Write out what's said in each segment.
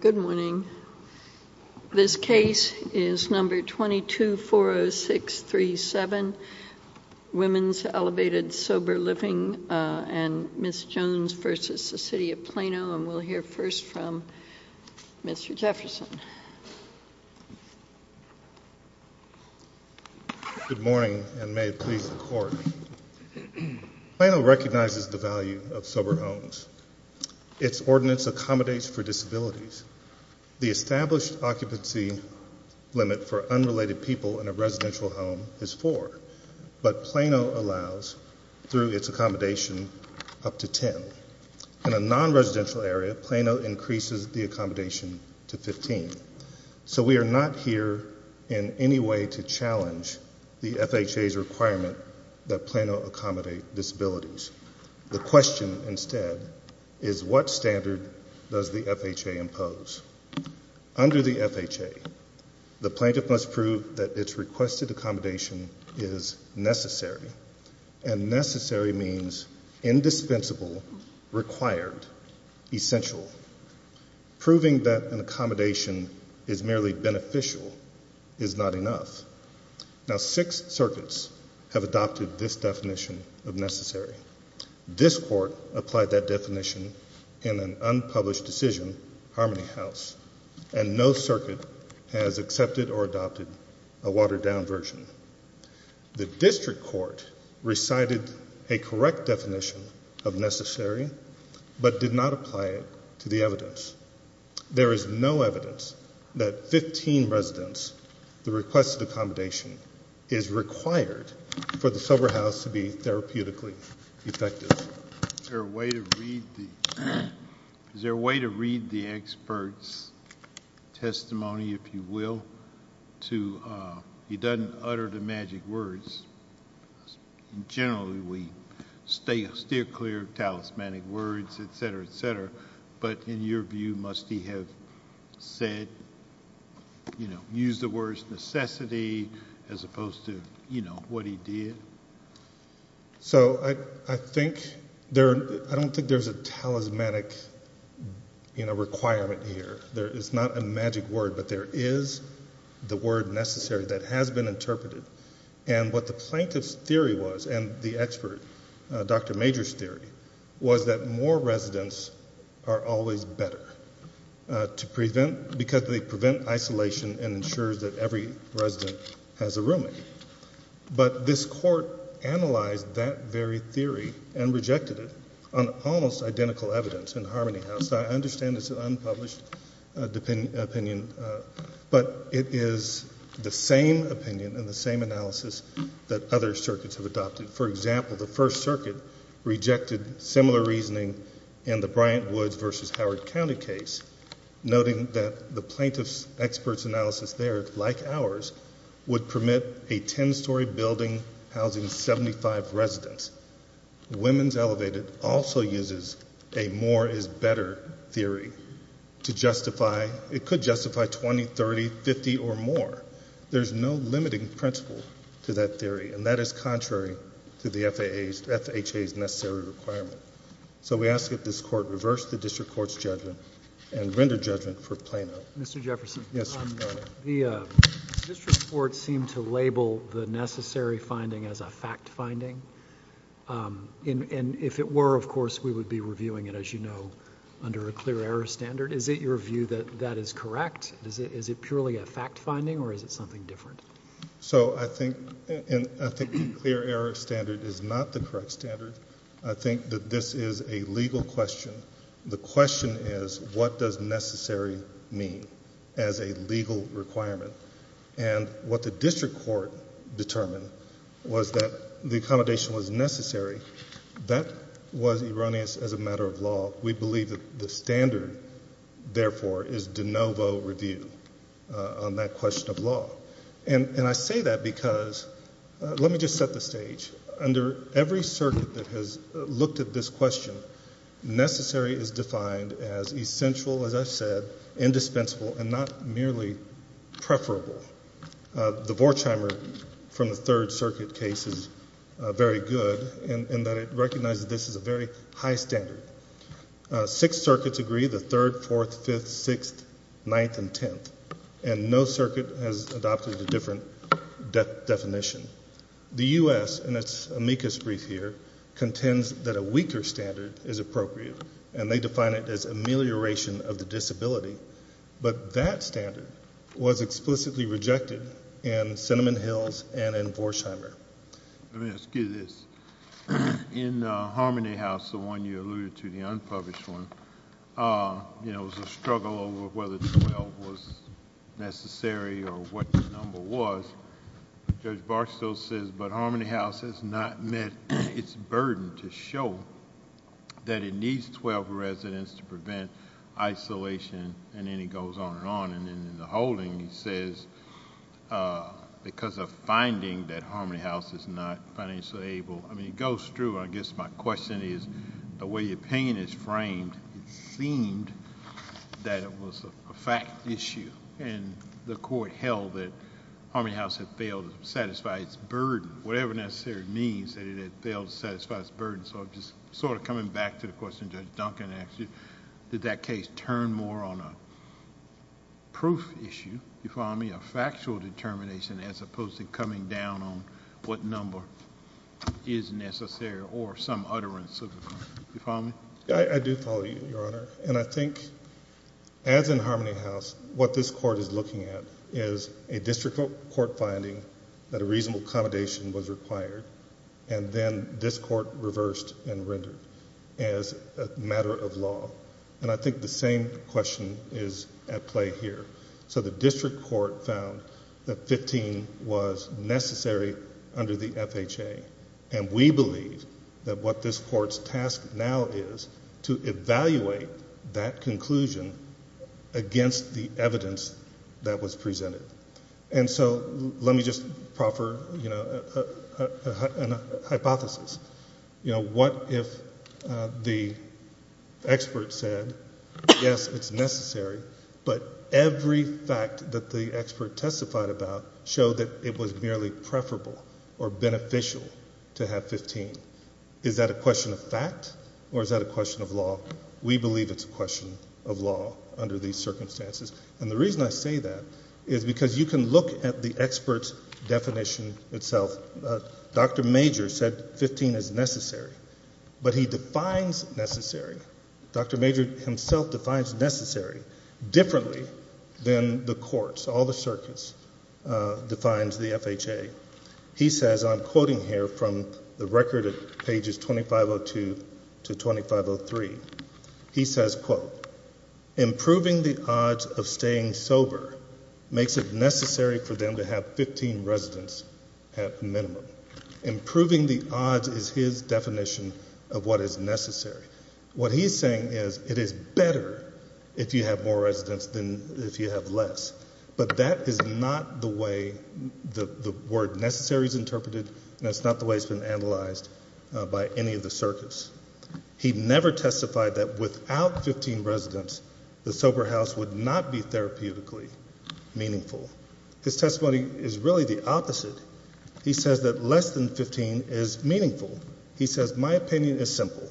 Good morning. This case is number 2240637, Women's Elevated Sober Living and Ms. Jones v. City of Plano, and we'll hear first from Mr. Jefferson. Good morning, and may it please the Court. Plano recognizes the value of sober homes. Its ordinance accommodates for disabilities. The established occupancy limit for unrelated people in a residential home is four, but Plano allows, through its accommodation, up to ten. In a non-residential area, Plano increases the accommodation to 15. So we are not here in any way to challenge the FHA's requirement that Plano accommodate disabilities. The question, instead, is what standard does the FHA impose? Under the FHA, the plaintiff must prove that its requested accommodation is necessary, and necessary means indispensable, required, essential. Proving that an accommodation is merely beneficial is not enough. Now, six circuits have adopted this definition of necessary. This Court applied that definition in an unpublished decision, Harmony House, and no circuit has accepted or adopted a watered-down version. The district court recited a correct definition of necessary, but did not apply it to the evidence. There is no evidence that 15 residents, the requested accommodation is required for the sober house to be therapeutically effective. Is there a way to read the expert's testimony, if you will, so he doesn't utter the magic words? Generally, we steer clear of talismanic words, etc., etc., but in your view, must he have said, you know, used the words necessity as opposed to, you know, what he did? So, I don't think there's a talismanic requirement here. It's not a magic word, but there is the word necessary that has been interpreted, and what the plaintiff's theory was, and the expert, Dr. Major's theory, was that more residents are always better because they prevent isolation and ensures that every resident has a roommate. But this Court analyzed that very theory and rejected it on almost identical evidence in Harmony House. I understand it's an unpublished opinion, but it is the same opinion and the same analysis that other circuits have adopted. For example, the First Circuit rejected similar reasoning in the Bryant Woods v. Howard County case, noting that the plaintiff's expert's analysis there, like ours, would permit a 10-story building housing 75 residents. Women's Elevated also uses a more is better theory to justify... it could justify 20, 30, 50, or more. There's no limiting principle to that theory, and that is contrary to the FHA's necessary requirement. So, we ask that this Court reverse the district court's judgment and render judgment for Plano. Mr. Jefferson. Yes, Your Honor. The district court seemed to label the necessary finding as a fact finding, and if it were, of course, we would be reviewing it, as you know, under a clear error standard. Is it your view that that is correct? Is it purely a fact finding, or is it something different? So, I think the clear error standard is not the correct standard. I think that this is a legal question. The question is, what does necessary mean as a legal requirement? And what the district court determined was that the accommodation was necessary. That was erroneous as a matter of law. We believe that the standard, therefore, is de novo review on that question of law. And I say that because—let me just set the stage. Under every circuit that has looked at this question, necessary is defined as essential, as I've said, indispensable, and not merely preferable. The Vorkheimer from the Third Circuit case is very good in that it recognizes this is a very high standard. Six circuits agree, the Third, Fourth, Fifth, Sixth, Ninth, and Tenth, and no circuit has adopted a different definition. The U.S., in its amicus brief here, contends that a weaker standard is appropriate, and they define it as amelioration of the disability. But that standard was explicitly rejected in Cinnamon Hills and in Vorkheimer. Let me ask you this. In Harmony House, the one you alluded to, the unpublished one, there was a struggle over whether 12 was necessary or what the number was. Judge Barstow says, but Harmony House has not met its burden to show that it needs 12 residents to prevent isolation. And then he goes on and on. And in the holding, he says, because of finding that Harmony House is not financially able—I mean, it goes through. I guess my question is, the way your opinion is framed, it seemed that it was a fact issue. And the court held that Harmony House had failed to satisfy its burden, whatever necessarily means that it had failed to satisfy its burden. So I'm just sort of coming back to the question Judge Duncan asked you. Did that case turn more on a proof issue, you follow me, a factual determination, as opposed to coming down on what number is necessary or some utterance of the claim? You follow me? I do follow you, Your Honor. And I think, as in Harmony House, what this court is looking at is a district court finding that a reasonable accommodation was required, and then this court reversed and rendered as a matter of law. And I think the same question is at play here. So the district court found that 15 was necessary under the FHA. And we believe that what this court's task now is to evaluate that conclusion against the evidence that was presented. And so let me just proffer, you know, a hypothesis. You know, what if the expert said, yes, it's necessary, but every fact that the expert testified about showed that it was merely preferable or beneficial to have 15? Is that a question of fact or is that a question of law? We believe it's a question of law under these circumstances. And the reason I say that is because you can look at the expert's definition itself. Dr. Major said 15 is necessary, but he defines necessary. Dr. Major himself defines necessary differently than the courts. All the circuits defines the FHA. He says, I'm quoting here from the record at pages 2502 to 2503. He says, quote, improving the odds of staying sober makes it necessary for them to have 15 residents at minimum. Improving the odds is his definition of what is necessary. What he is saying is it is better if you have more residents than if you have less. But that is not the way the word necessary is interpreted and it's not the way it's been analyzed by any of the circuits. He never testified that without 15 residents, the sober house would not be therapeutically meaningful. His testimony is really the opposite. He says that less than 15 is meaningful. He says my opinion is simple,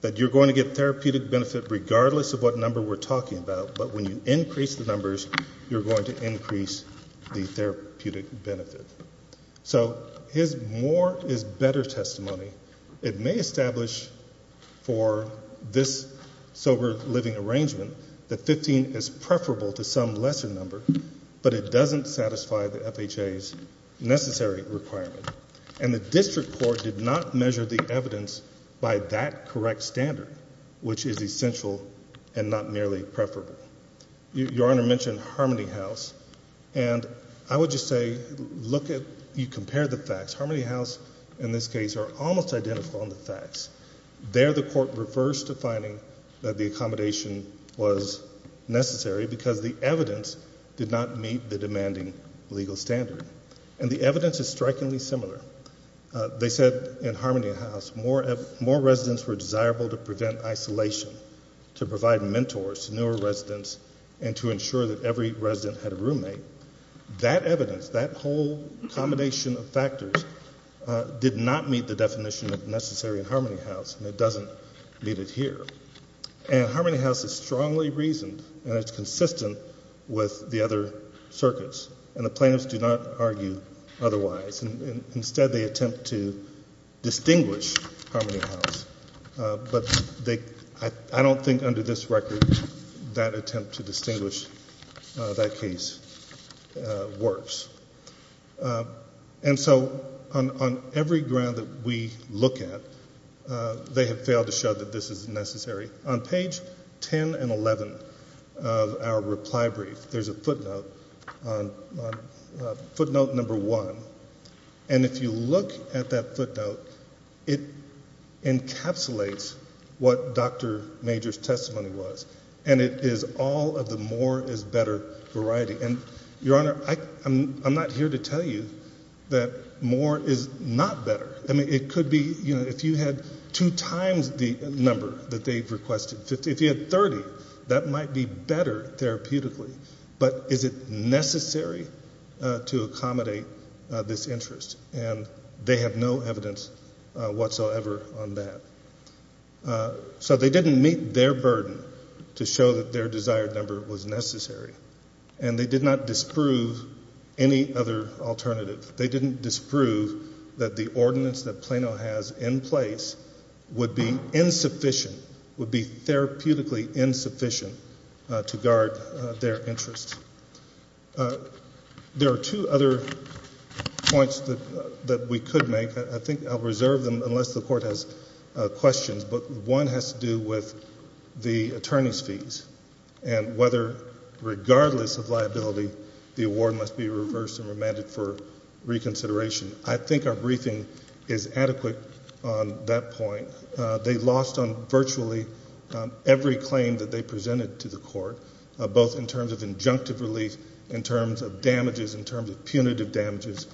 that you're going to get therapeutic benefit regardless of what number we're talking about, but when you increase the numbers, you're going to increase the therapeutic benefit. So his more is better testimony. It may establish for this sober living arrangement that 15 is preferable to some lesser number, but it doesn't satisfy the FHA's necessary requirement. And the district court did not measure the evidence by that correct standard, which is essential and not merely preferable. Your Honor mentioned Harmony House, and I would just say look at you compare the facts. Harmony House in this case are almost identical in the facts. There the court refers to finding that the accommodation was necessary because the evidence did not meet the demanding legal standard. And the evidence is strikingly similar. They said in Harmony House more residents were desirable to prevent isolation, to provide mentors to newer residents, and to ensure that every resident had a roommate. That evidence, that whole combination of factors did not meet the definition of necessary in Harmony House, and it doesn't meet it here. And Harmony House is strongly reasoned, and it's consistent with the other circuits, and the plaintiffs do not argue otherwise. Instead, they attempt to distinguish Harmony House. But I don't think under this record that attempt to distinguish that case works. And so on every ground that we look at, they have failed to show that this is necessary. On page 10 and 11 of our reply brief, there's a footnote, footnote number one. And if you look at that footnote, it encapsulates what Dr. Major's testimony was, and it is all of the more is better variety. And, Your Honor, I'm not here to tell you that more is not better. I mean, it could be, you know, if you had two times the number that they've requested. If you had 30, that might be better therapeutically. But is it necessary to accommodate this interest? And they have no evidence whatsoever on that. So they didn't meet their burden to show that their desired number was necessary, and they did not disprove any other alternative. They didn't disprove that the ordinance that Plano has in place would be insufficient, would be therapeutically insufficient to guard their interest. There are two other points that we could make. I think I'll reserve them unless the Court has questions. But one has to do with the attorney's fees and whether, regardless of liability, the award must be reversed and remanded for reconsideration. I think our briefing is adequate on that point. They lost on virtually every claim that they presented to the Court, both in terms of injunctive relief, in terms of damages, in terms of punitive damages.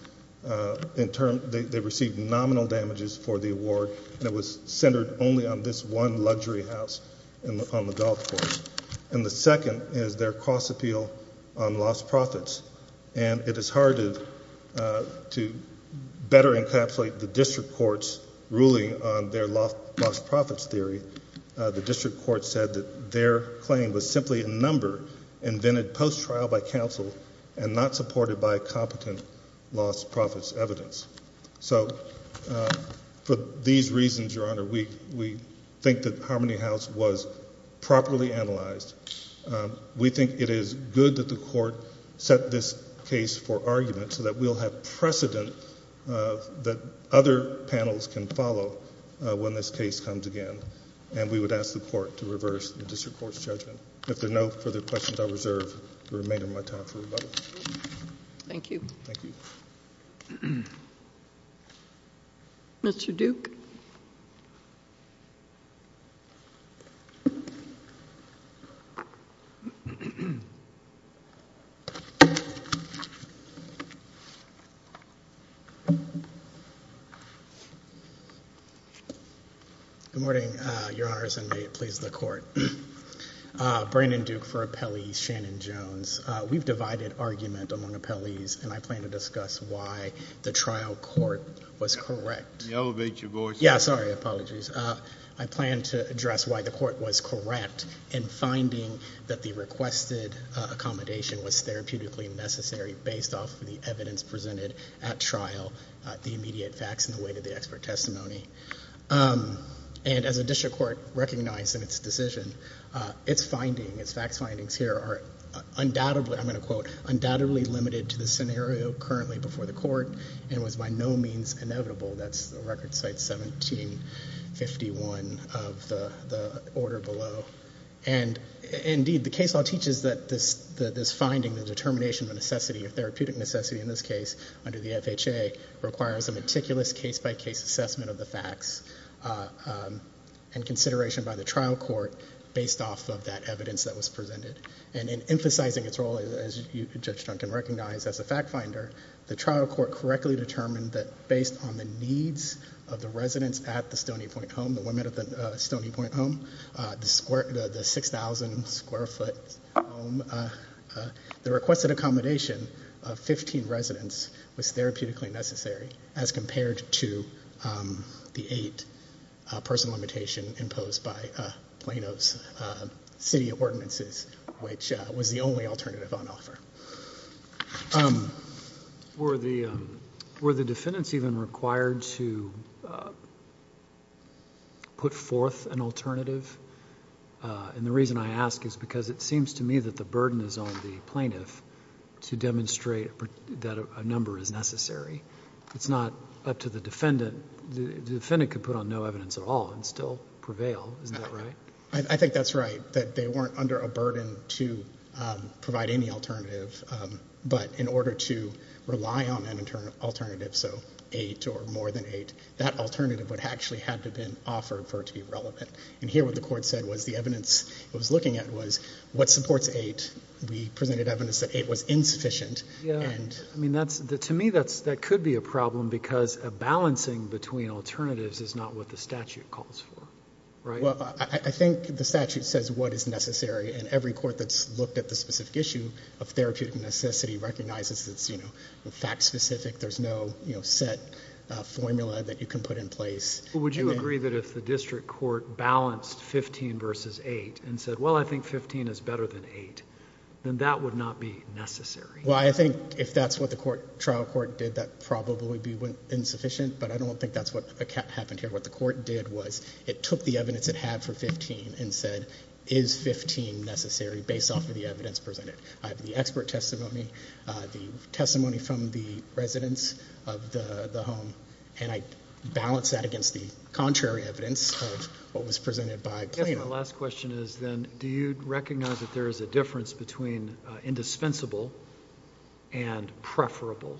They received nominal damages for the award, and it was centered only on this one luxury house on the Gulf Coast. And the second is their cross-appeal on lost profits. And it is hard to better encapsulate the district court's ruling on their lost profits theory. The district court said that their claim was simply a number invented post-trial by counsel and not supported by competent lost profits evidence. So for these reasons, Your Honor, we think that Harmony House was properly analyzed. We think it is good that the Court set this case for argument so that we'll have precedent that other panels can follow when this case comes again. And we would ask the Court to reverse the district court's judgment. If there are no further questions, I reserve the remainder of my time for rebuttal. Thank you. Thank you. Mr. Duke. Good morning, Your Honors, and may it please the Court. Brandon Duke for Appellee Shannon Jones. We've divided argument among appellees, and I plan to discuss why the trial court was correct. Can you elevate your voice? Yes. Sorry. Apologies. I plan to address why the court was correct in finding that the requested accommodation was therapeutically necessary based off of the evidence presented at trial, the immediate facts, and the weight of the expert testimony. And as the district court recognized in its decision, its findings, its facts findings here, are undoubtedly, I'm going to quote, to the scenario currently before the court and was by no means inevitable. That's record site 1751 of the order below. And indeed, the case law teaches that this finding, the determination of necessity, of therapeutic necessity in this case under the FHA, requires a meticulous case-by-case assessment of the facts and consideration by the trial court based off of that evidence that was presented. And in emphasizing its role, as Judge Duncan recognized, as a fact finder, the trial court correctly determined that based on the needs of the residents at the Stony Point home, the women at the Stony Point home, the 6,000 square foot home, the requested accommodation of 15 residents was therapeutically necessary as compared to the eight person limitation imposed by Plano's city ordinances, which was the only alternative on offer. Were the defendants even required to put forth an alternative? And the reason I ask is because it seems to me that the burden is on the plaintiff to demonstrate that a number is necessary. It's not up to the defendant. The defendant could put on no evidence at all and still prevail. Isn't that right? I think that's right, that they weren't under a burden to provide any alternative. But in order to rely on an alternative, so eight or more than eight, that alternative would actually have to have been offered for it to be relevant. And here what the court said was the evidence it was looking at was what supports eight. We presented evidence that eight was insufficient. To me that could be a problem because a balancing between alternatives is not what the statute calls for, right? Well, I think the statute says what is necessary, and every court that's looked at the specific issue of therapeutic necessity recognizes it's fact specific. There's no set formula that you can put in place. Would you agree that if the district court balanced 15 versus eight and said, well, I think 15 is better than eight, then that would not be necessary? Well, I think if that's what the trial court did, that probably would be insufficient, but I don't think that's what happened here. What the court did was it took the evidence it had for 15 and said, is 15 necessary based off of the evidence presented? I have the expert testimony, the testimony from the residents of the home, and I balanced that against the contrary evidence of what was presented by Plano. I guess my last question is then do you recognize that there is a difference between indispensable and preferable?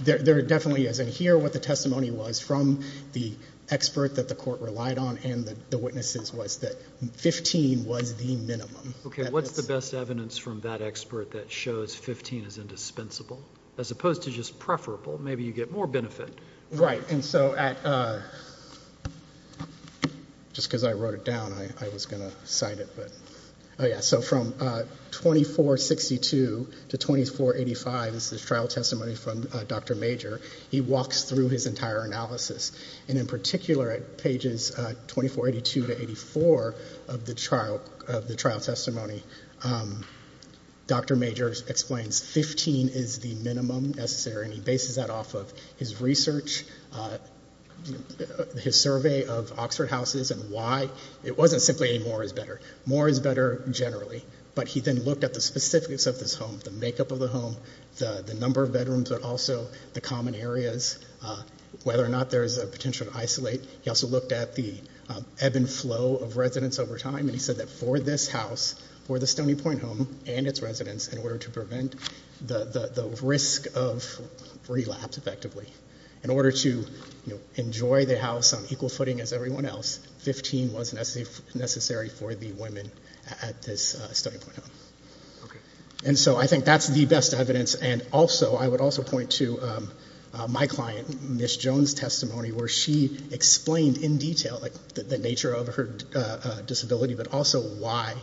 There definitely is. And here what the testimony was from the expert that the court relied on and the witnesses was that 15 was the minimum. Okay. What's the best evidence from that expert that shows 15 is indispensable? As opposed to just preferable, maybe you get more benefit. Right. And so just because I wrote it down, I was going to cite it. So from 2462 to 2485, this is trial testimony from Dr. Major, he walks through his entire analysis, and in particular at pages 2482 to 2484 of the trial testimony, Dr. Major explains 15 is the minimum necessary, and he bases that off of his research, his survey of Oxford houses and why. It wasn't simply any more is better. More is better generally. But he then looked at the specifics of this home, the makeup of the home, the number of bedrooms, but also the common areas, whether or not there is a potential to isolate. He also looked at the ebb and flow of residents over time, and he said that for this house, for the Stony Point home and its residents, in order to prevent the risk of relapse effectively, in order to enjoy the house on equal footing as everyone else, 15 was necessary for the women at this Stony Point home. Okay. And so I think that's the best evidence, and I would also point to my client, Ms. Jones' testimony, where she explained in detail the nature of her disability but also why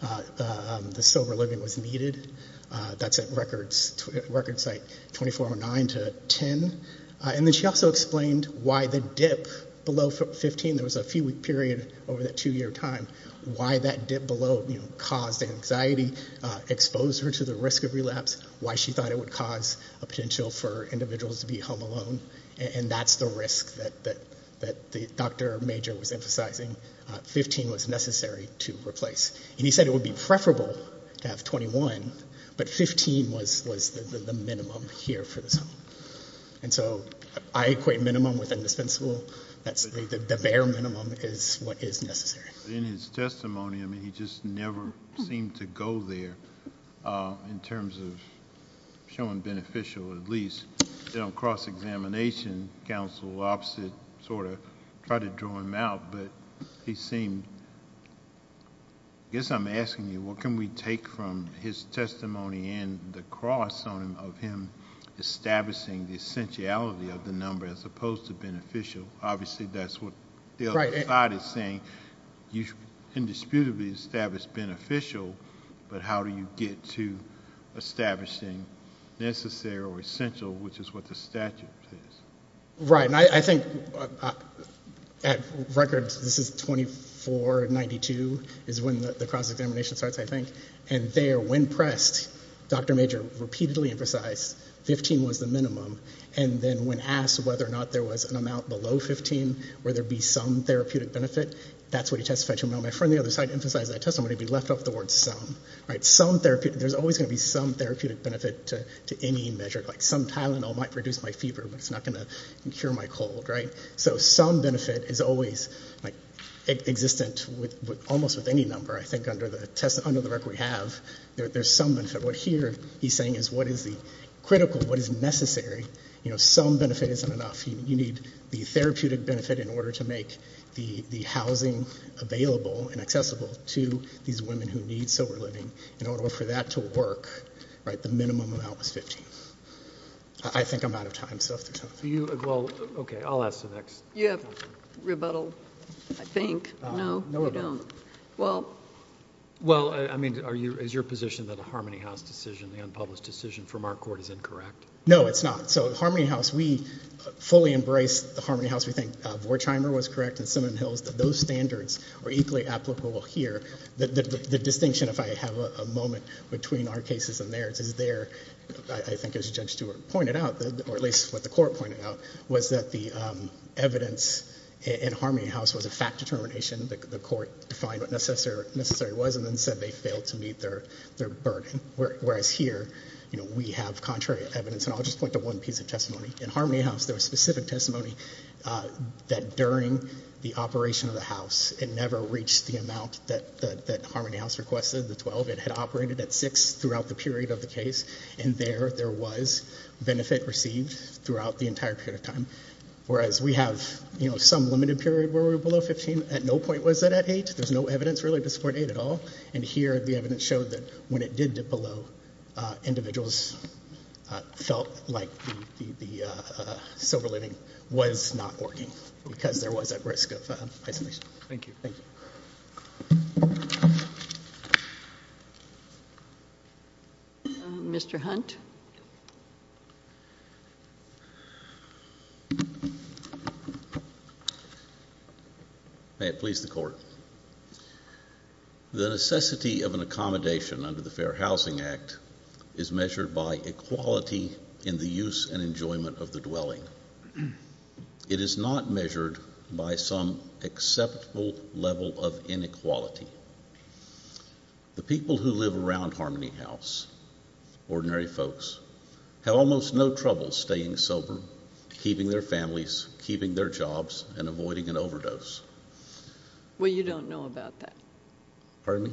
the sober living was needed. That's at record site 2409 to 10. And then she also explained why the dip below 15, there was a few-week period over that two-year time, why that dip below caused anxiety, exposed her to the risk of relapse, why she thought it would cause a potential for individuals to be home alone, and that's the risk that Dr. Major was emphasizing. 15 was necessary to replace. And he said it would be preferable to have 21, but 15 was the minimum here for this home. And so I equate minimum with indispensable. The bare minimum is what is necessary. In his testimony, I mean, he just never seemed to go there, in terms of showing beneficial, at least. In his cross-examination, counsel opposite sort of tried to draw him out, but he seemed, I guess I'm asking you, what can we take from his testimony and the cross on him of him establishing the essentiality of the number as opposed to beneficial? Obviously, that's what the other side is saying. You indisputably established beneficial, but how do you get to establishing necessary or essential, which is what the statute says. Right, and I think, at record, this is 2492, is when the cross-examination starts, I think. And there, when pressed, Dr. Major repeatedly emphasized 15 was the minimum. And then when asked whether or not there was an amount below 15 where there would be some therapeutic benefit, that's what he testified to. And my friend on the other side emphasized that testimony, but he left off the word some. There's always going to be some therapeutic benefit to any measure, like some Tylenol might reduce my fever, but it's not going to cure my cold. So some benefit is always existent almost with any number, I think under the record we have, there's some benefit. What here he's saying is what is the critical, what is necessary. Some benefit isn't enough. You need the therapeutic benefit in order to make the housing available and accessible to these women who need sober living. In order for that to work, the minimum amount was 15. I think I'm out of time. Okay, I'll ask the next question. You have rebuttal, I think. No, we don't. Well, I mean, is your position that a Harmony House decision, the unpublished decision from our court is incorrect? No, it's not. So Harmony House, we fully embrace the Harmony House. We think Vorcheimer was correct and Simmons-Hills, that those standards were equally applicable here. The distinction, if I have a moment, between our cases and theirs, is there, I think as Judge Stewart pointed out, or at least what the court pointed out, was that the evidence in Harmony House was a fact determination. The court defined what necessary was and then said they failed to meet their burden, whereas here we have contrary evidence. And I'll just point to one piece of testimony. In Harmony House, there was specific testimony that during the operation of the house, it never reached the amount that Harmony House requested, the 12. It had operated at 6 throughout the period of the case, and there there was benefit received throughout the entire period of time, whereas we have some limited period where we're below 15. At no point was it at 8. There's no evidence really to support 8 at all. And here the evidence showed that when it did dip below, individuals felt like the silver lining was not working because there was a risk of isolation. Thank you. Thank you. May it please the court. The necessity of an accommodation under the Fair Housing Act is measured by equality in the use and enjoyment of the dwelling. It is not measured by some acceptable level of inequality. The people who live around Harmony House, ordinary folks, have almost no trouble staying sober, keeping their families, keeping their jobs, and avoiding an overdose. Well, you don't know about that. Pardon me?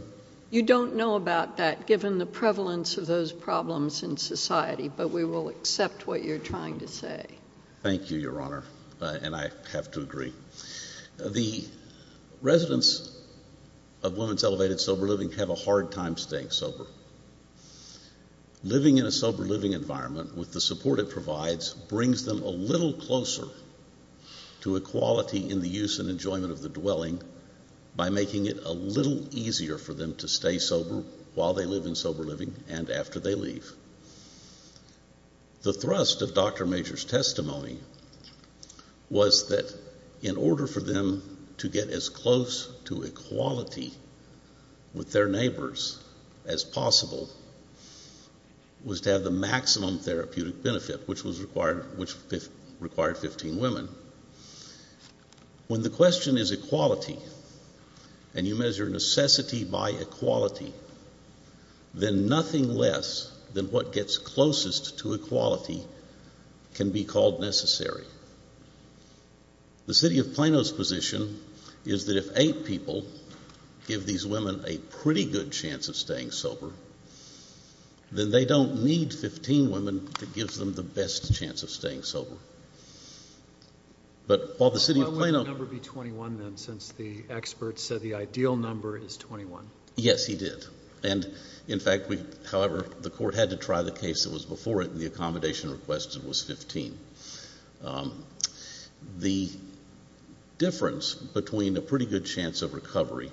You don't know about that given the prevalence of those problems in society, but we will accept what you're trying to say. Thank you, Your Honor, and I have to agree. The residents of women's elevated sober living have a hard time staying sober. Living in a sober living environment with the support it provides brings them a little closer to equality in the use and enjoyment of the dwelling by making it a little easier for them to stay sober while they live in sober living and after they leave. The thrust of Dr. Major's testimony was that in order for them to get as close to equality with their neighbors as possible was to have the maximum therapeutic benefit, which required 15 women. When the question is equality and you measure necessity by equality, then nothing less than what gets closest to equality can be called necessary. The city of Plano's position is that if eight people give these women a pretty good chance of staying sober, then they don't need 15 women to give them the best chance of staying sober. But while the city of Plano Why would the number be 21 then since the experts said the ideal number is 21? Yes, he did. And, in fact, however, the court had to try the case that was before it and the accommodation requested was 15. The difference between a pretty good chance of recovery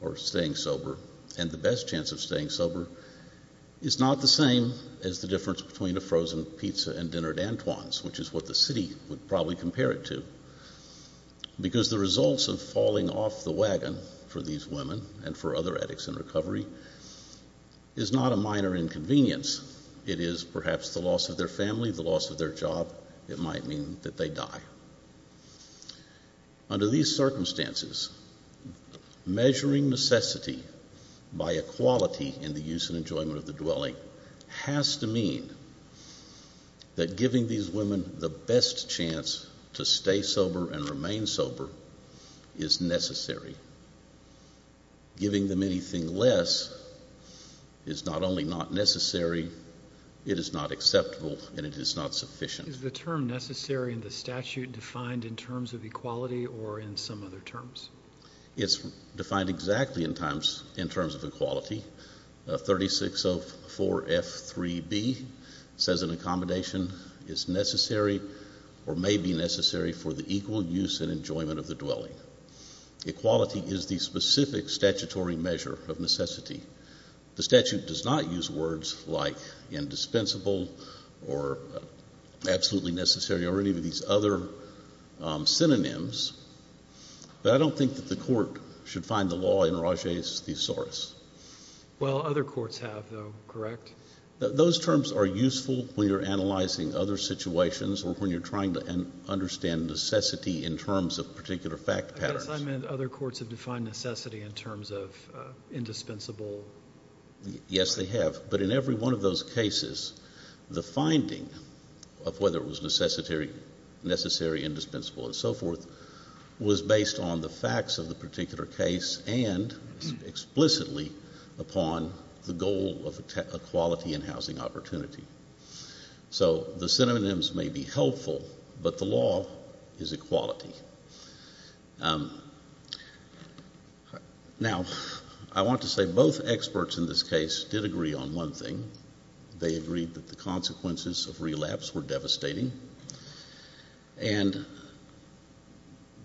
or staying sober and the best chance of staying sober is not the same as the difference between a frozen pizza and dinner at Antoine's, which is what the city would probably compare it to, because the results of falling off the wagon for these women and for other addicts in recovery is not a minor inconvenience. It is perhaps the loss of their family, the loss of their job. It might mean that they die. Under these circumstances, measuring necessity by equality in the use and enjoyment of the dwelling has to mean that giving these women the best chance to stay sober and remain sober is necessary. Giving them anything less is not only not necessary, it is not acceptable, and it is not sufficient. Is the term necessary in the statute defined in terms of equality or in some other terms? It's defined exactly in terms of equality. 3604F3B says an accommodation is necessary or may be necessary for the equal use and enjoyment of the dwelling. The statute does not use words like indispensable or absolutely necessary or any of these other synonyms, but I don't think that the court should find the law in Rage's thesaurus. Well, other courts have, though, correct? Those terms are useful when you're analyzing other situations or when you're trying to understand necessity in terms of particular fact patterns. Other courts have defined necessity in terms of indispensable. Yes, they have, but in every one of those cases, the finding of whether it was necessary, indispensable, and so forth was based on the facts of the particular case and explicitly upon the goal of equality in housing opportunity. So the synonyms may be helpful, but the law is equality. Now, I want to say both experts in this case did agree on one thing. They agreed that the consequences of relapse were devastating. And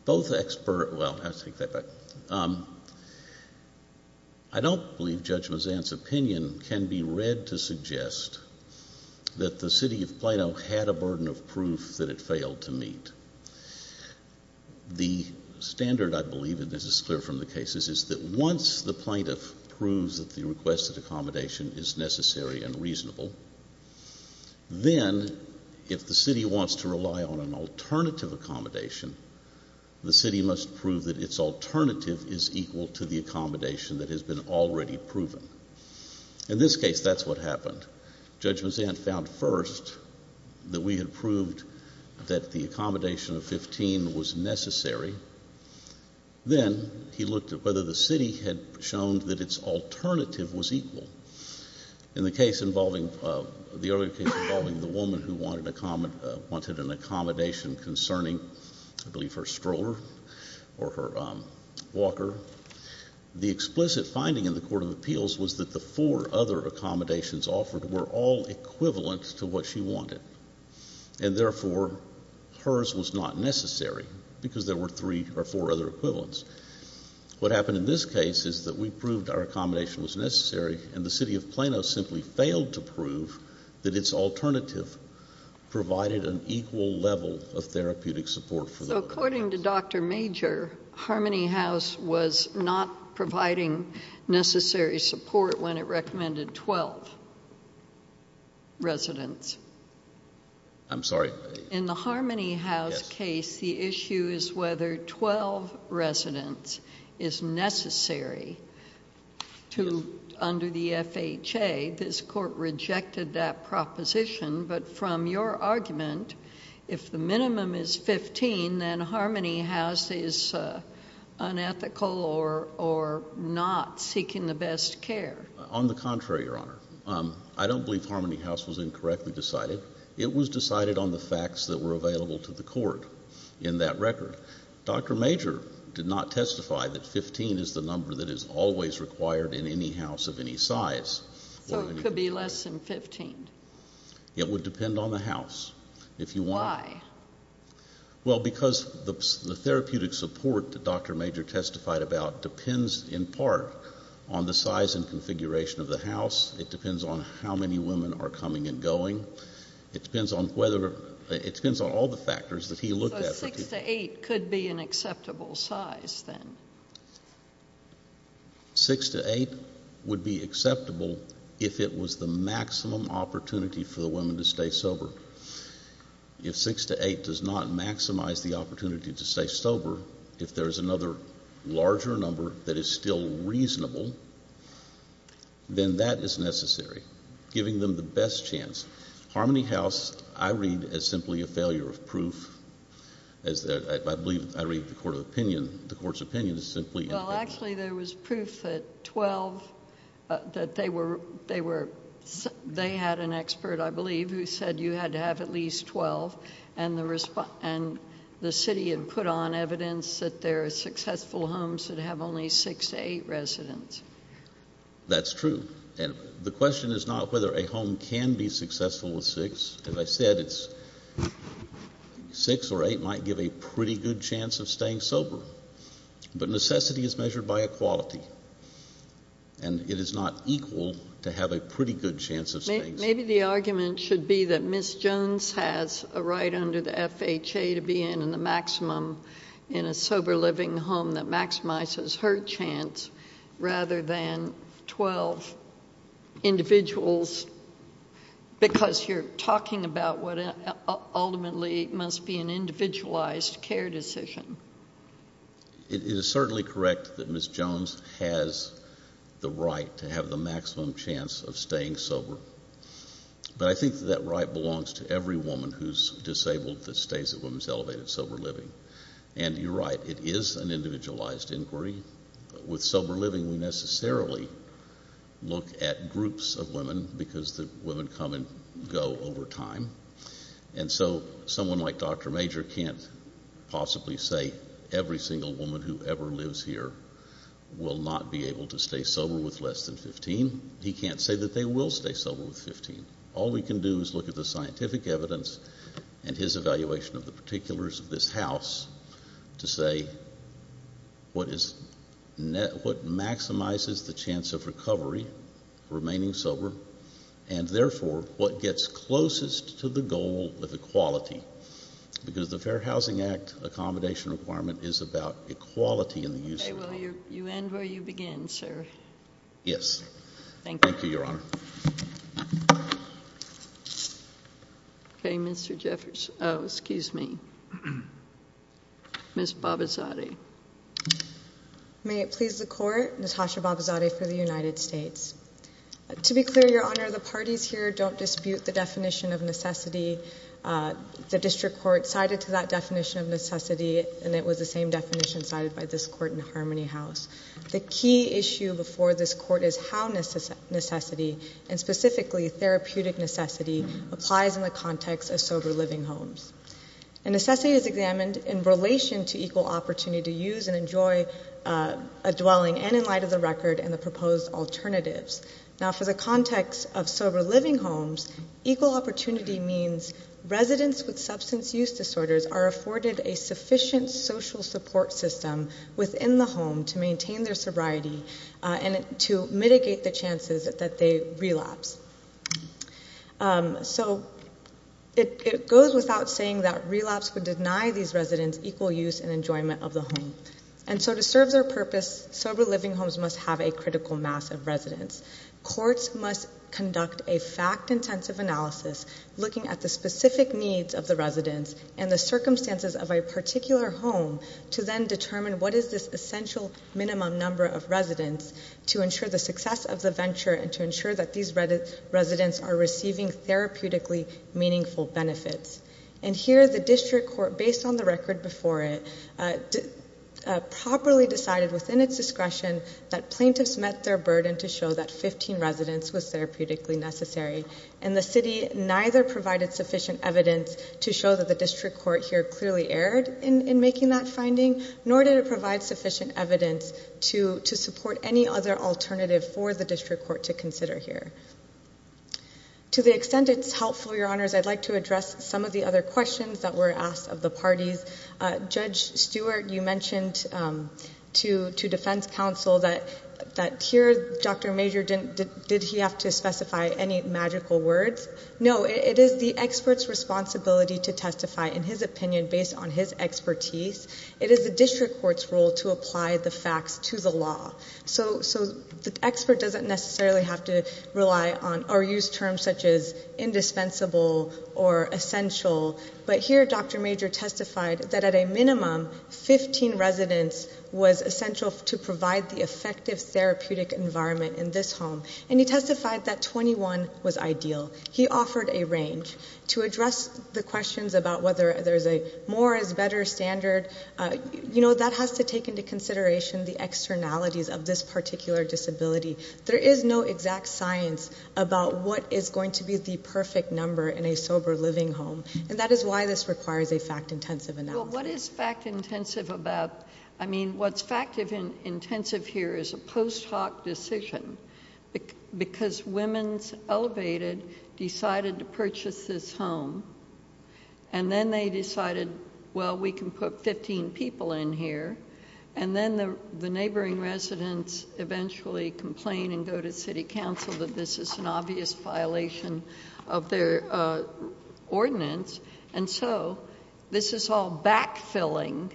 both experts, well, I'll take that back. I don't believe Judge Mazzan's opinion can be read to suggest that the city of Plano had a burden of proof that it failed to meet. The standard, I believe, and this is clear from the cases, is that once the plaintiff proves that the requested accommodation is necessary and reasonable, then if the city wants to rely on an alternative accommodation, the city must prove that its alternative is equal to the accommodation that has been already proven. In this case, that's what happened. Judge Mazzan found first that we had proved that the accommodation of 15 was necessary. Then he looked at whether the city had shown that its alternative was equal. In the case involving, the earlier case involving the woman who wanted an accommodation concerning, I believe, her stroller or her walker, the explicit finding in the court of appeals was that the four other accommodations offered were all equivalent to what she wanted. And therefore, hers was not necessary because there were three or four other equivalents. What happened in this case is that we proved our accommodation was necessary, and the city of Plano simply failed to prove that its alternative provided an equal level of therapeutic support for the woman. So according to Dr. Major, Harmony House was not providing necessary support when it recommended 12 residents. I'm sorry? In the Harmony House case, the issue is whether 12 residents is necessary. Under the FHA, this court rejected that proposition, but from your argument, if the minimum is 15, then Harmony House is unethical or not seeking the best care. On the contrary, Your Honor. I don't believe Harmony House was incorrectly decided. It was decided on the facts that were available to the court in that record. Dr. Major did not testify that 15 is the number that is always required in any house of any size. So it could be less than 15. It would depend on the house. If you want. Why? Well, because the therapeutic support that Dr. Major testified about depends in part on the size and configuration of the house. It depends on how many women are coming and going. It depends on whether, it depends on all the factors that he looked at. So six to eight could be an acceptable size then? Six to eight would be acceptable if it was the maximum opportunity for the women to stay sober. If six to eight does not maximize the opportunity to stay sober, if there is another larger number that is still reasonable, then that is necessary, giving them the best chance. Harmony House, I read as simply a failure of proof. I believe I read the court's opinion as simply a failure of proof. Well, actually, there was proof that 12, that they had an expert, I believe, who said you had to have at least 12, and the city had put on evidence that there are successful homes that have only six to eight residents. That's true. And the question is not whether a home can be successful with six. As I said, six or eight might give a pretty good chance of staying sober. But necessity is measured by equality, and it is not equal to have a pretty good chance of staying sober. Maybe the argument should be that Ms. Jones has a right under the FHA to be in the maximum in a sober living home that maximizes her chance rather than 12 individuals, because you're talking about what ultimately must be an individualized care decision. It is certainly correct that Ms. Jones has the right to have the maximum chance of staying sober. But I think that that right belongs to every woman who is disabled that stays at Women's Elevated Sober Living. And you're right, it is an individualized inquiry. With sober living, we necessarily look at groups of women because the women come and go over time. And so someone like Dr. Major can't possibly say every single woman who ever lives here will not be able to stay sober with less than 15. He can't say that they will stay sober with 15. All we can do is look at the scientific evidence and his evaluation of the particulars of this House to say what maximizes the chance of recovery, remaining sober, and therefore what gets closest to the goal of equality, because the Fair Housing Act accommodation requirement is about equality in the use of the home. Okay, well, you end where you begin, sir. Yes. Thank you. Thank you, Your Honor. Okay, Mr. Jeffers. Oh, excuse me. Ms. Babazadeh. May it please the Court, Natasha Babazadeh for the United States. To be clear, Your Honor, the parties here don't dispute the definition of necessity. The district court cited to that definition of necessity, and it was the same definition cited by this court in Harmony House. The key issue before this court is how necessity, and specifically therapeutic necessity, applies in the context of sober living homes. And necessity is examined in relation to equal opportunity to use and enjoy a dwelling, and in light of the record and the proposed alternatives. Now, for the context of sober living homes, equal opportunity means residents with substance use disorders are afforded a sufficient social support system within the home to maintain their sobriety and to mitigate the chances that they relapse. So it goes without saying that relapse would deny these residents equal use and enjoyment of the home. And so to serve their purpose, sober living homes must have a critical mass of residents. Courts must conduct a fact-intensive analysis looking at the specific needs of the residents and the circumstances of a particular home to then determine what is this essential minimum number of residents to ensure the success of the venture and to ensure that these residents are receiving therapeutically meaningful benefits. And here the district court, based on the record before it, properly decided within its discretion that plaintiffs met their burden to show that 15 residents was therapeutically necessary. And the city neither provided sufficient evidence to show that the district court here clearly erred in making that finding, nor did it provide sufficient evidence to support any other alternative for the district court to consider here. To the extent it's helpful, Your Honors, I'd like to address some of the other questions that were asked of the parties. Judge Stewart, you mentioned to defense counsel that here Dr. Major, did he have to specify any magical words? No, it is the expert's responsibility to testify in his opinion based on his expertise. It is the district court's role to apply the facts to the law. So the expert doesn't necessarily have to rely on or use terms such as indispensable or essential. But here Dr. Major testified that at a minimum, 15 residents was essential to provide the effective therapeutic environment in this home. And he testified that 21 was ideal. He offered a range. To address the questions about whether there's a more is better standard, you know, that has to take into consideration the externalities of this particular disability. There is no exact science about what is going to be the perfect number in a sober living home. And that is why this requires a fact-intensive analysis. Well, what is fact-intensive about? I mean, what's fact-intensive here is a post hoc decision because women's elevated decided to purchase this home. And then they decided, well, we can put 15 people in here. And then the neighboring residents eventually complain and go to city council that this is an obvious violation of their ordinance. And so this is all backfilling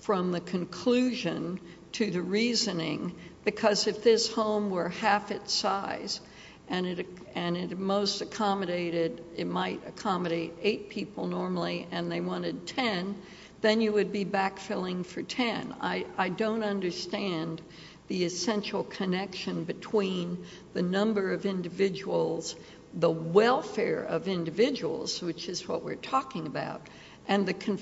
from the conclusion to the reasoning. Because if this home were half its size and it most accommodated, it might accommodate eight people normally and they wanted 10, then you would be backfilling for 10. I don't understand the essential connection between the number of individuals, the welfare of individuals, which is what we're talking about, and the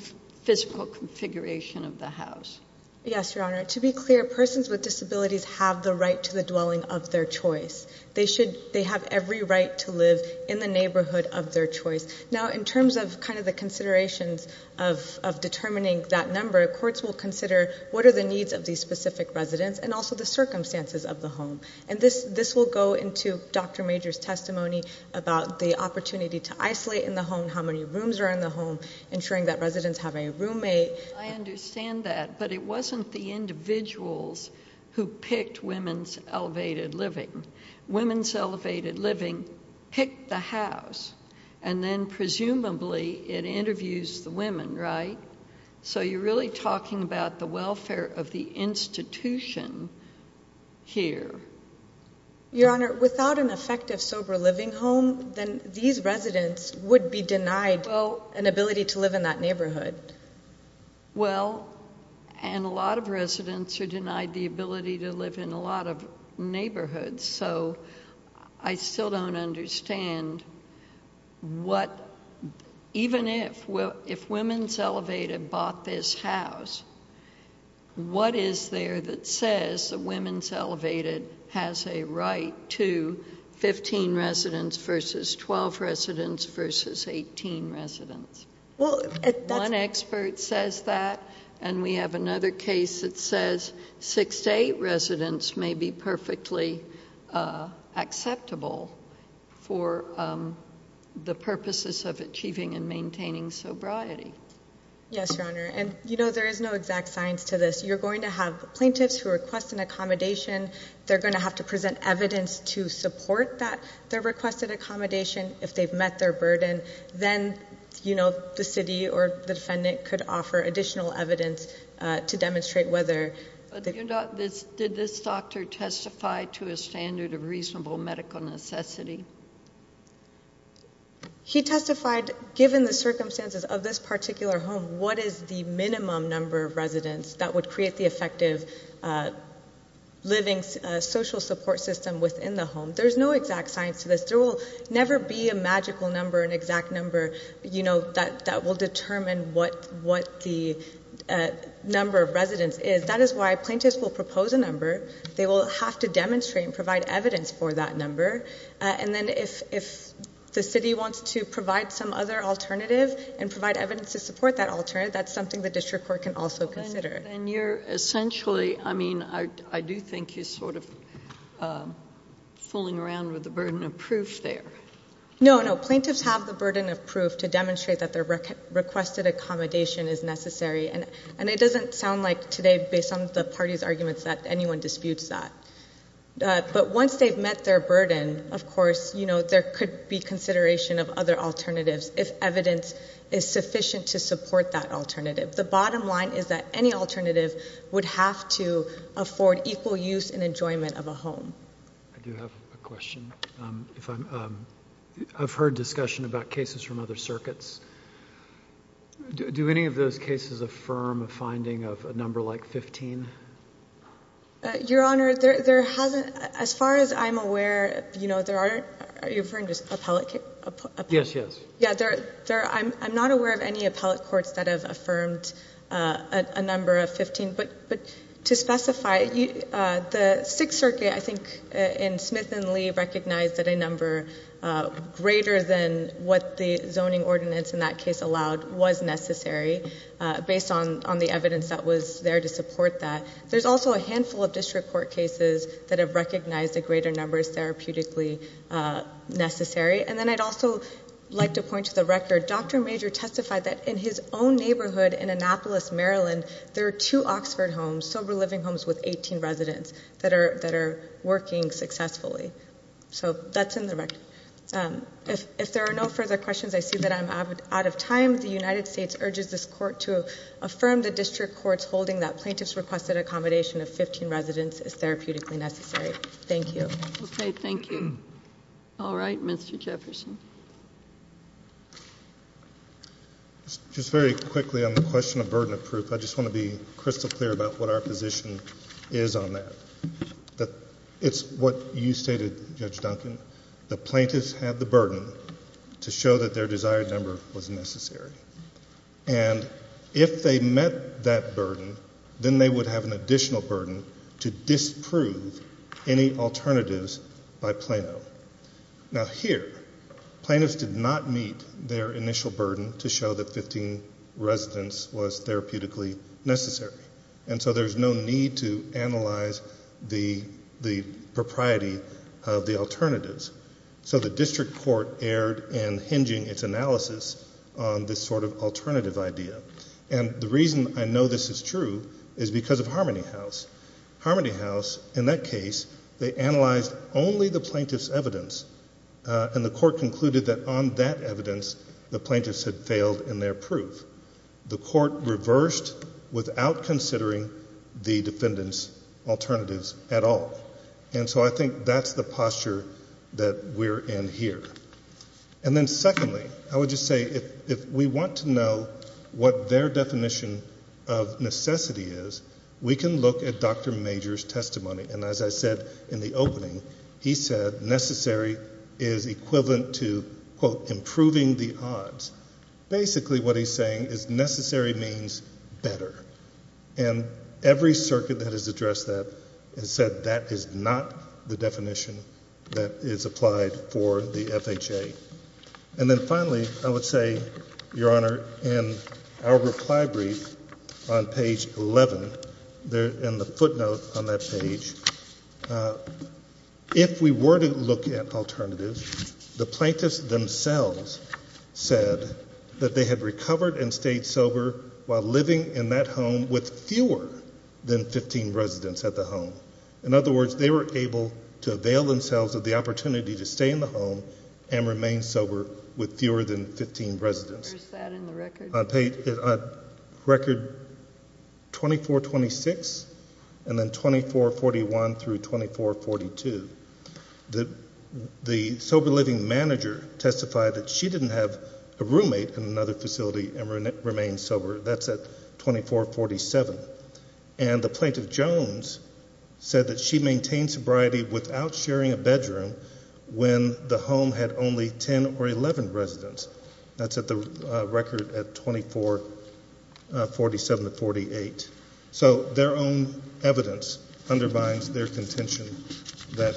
physical configuration of the house. Yes, Your Honor. To be clear, persons with disabilities have the right to the dwelling of their choice. They have every right to live in the neighborhood of their choice. Now, in terms of kind of the considerations of determining that number, courts will consider what are the needs of these specific residents and also the circumstances of the home. And this will go into Dr. Major's testimony about the opportunity to isolate in the home, how many rooms are in the home, ensuring that residents have a roommate. I understand that, but it wasn't the individuals who picked Women's Elevated Living. Women's Elevated Living picked the house and then presumably it interviews the women, right? So you're really talking about the welfare of the institution here. Your Honor, without an effective sober living home, then these residents would be denied an ability to live in that neighborhood. Well, and a lot of residents are denied the ability to live in a lot of neighborhoods, so I still don't understand what, even if Women's Elevated bought this house, what is there that says that Women's Elevated has a right to 15 residents versus 12 residents versus 18 residents? One expert says that, and we have another case that says 6 to 8 residents may be perfectly acceptable for the purposes of achieving and maintaining sobriety. Yes, Your Honor, and you know there is no exact science to this. You're going to have plaintiffs who request an accommodation. They're going to have to present evidence to support their requested accommodation. If they've met their burden, then the city or the defendant could offer additional evidence to demonstrate whether Did this doctor testify to a standard of reasonable medical necessity? He testified, given the circumstances of this particular home, what is the minimum number of residents that would create the effective living social support system within the home. There's no exact science to this. There will never be a magical number, an exact number, you know, that will determine what the number of residents is. That is why plaintiffs will propose a number. They will have to demonstrate and provide evidence for that number, and then if the city wants to provide some other alternative and provide evidence to support that alternative, that's something the district court can also consider. Then you're essentially, I mean, I do think you're sort of fooling around with the burden of proof there. No, no. Plaintiffs have the burden of proof to demonstrate that their requested accommodation is necessary, and it doesn't sound like today, based on the party's arguments, that anyone disputes that. But once they've met their burden, of course, you know, there could be consideration of other alternatives, if evidence is sufficient to support that alternative. The bottom line is that any alternative would have to afford equal use and enjoyment of a home. I do have a question. I've heard discussion about cases from other circuits. Do any of those cases affirm a finding of a number like 15? Your Honor, there hasn't. As far as I'm aware, you know, there aren't. Are you referring to appellate cases? Yes, yes. Yeah, I'm not aware of any appellate courts that have affirmed a number of 15, but to specify, the Sixth Circuit, I think, in Smith and Lee, recognized that a number greater than what the zoning ordinance in that case allowed was necessary, based on the evidence that was there to support that. There's also a handful of district court cases that have recognized a greater number is therapeutically necessary. And then I'd also like to point to the record. Dr. Major testified that in his own neighborhood in Annapolis, Maryland, there are two Oxford homes, sober living homes with 18 residents, that are working successfully. So that's in the record. If there are no further questions, I see that I'm out of time. The United States urges this court to affirm the district courts holding that plaintiff's requested accommodation of 15 residents is therapeutically necessary. Thank you. Okay, thank you. All right, Mr. Jefferson. Just very quickly on the question of burden of proof, I just want to be crystal clear about what our position is on that. It's what you stated, Judge Duncan. The plaintiffs have the burden to show that their desired number was necessary. And if they met that burden, then they would have an additional burden to disprove any alternatives by Plano. Now, here plaintiffs did not meet their initial burden to show that 15 residents was therapeutically necessary. And so there's no need to analyze the propriety of the alternatives. So the district court erred in hinging its analysis on this sort of alternative idea. And the reason I know this is true is because of Harmony House. Harmony House, in that case, they analyzed only the plaintiff's evidence, and the court concluded that on that evidence the plaintiffs had failed in their proof. The court reversed without considering the defendants' alternatives at all. And so I think that's the posture that we're in here. And then secondly, I would just say if we want to know what their definition of necessity is, we can look at Dr. Major's testimony. And as I said in the opening, he said necessary is equivalent to, quote, improving the odds. Basically what he's saying is necessary means better. And every circuit that has addressed that has said that is not the definition that is applied for the FHA. And then finally, I would say, Your Honor, in our reply brief on page 11, in the footnote on that page, if we were to look at alternatives, the plaintiffs themselves said that they had recovered and stayed sober while living in that home with fewer than 15 residents at the home. In other words, they were able to avail themselves of the opportunity to stay in the home and remain sober with fewer than 15 residents. Where's that in the record? Record 2426 and then 2441 through 2442. The sober living manager testified that she didn't have a roommate in another facility and remained sober. That's at 2447. And the plaintiff, Jones, said that she maintained sobriety without sharing a bedroom when the home had only 10 or 11 residents. That's at the record at 2447 to 48. So their own evidence undermines their contention that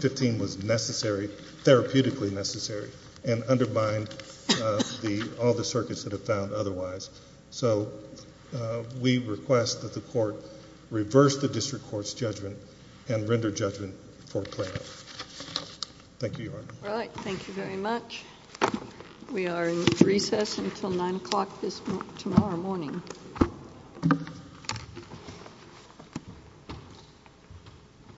15 was necessary, therapeutically necessary, and undermined all the circuits that have found otherwise. So we request that the court reverse the district court's judgment and render judgment for Plano. Thank you, Your Honor. All right. Thank you very much. We are in recess until 9 o'clock tomorrow morning.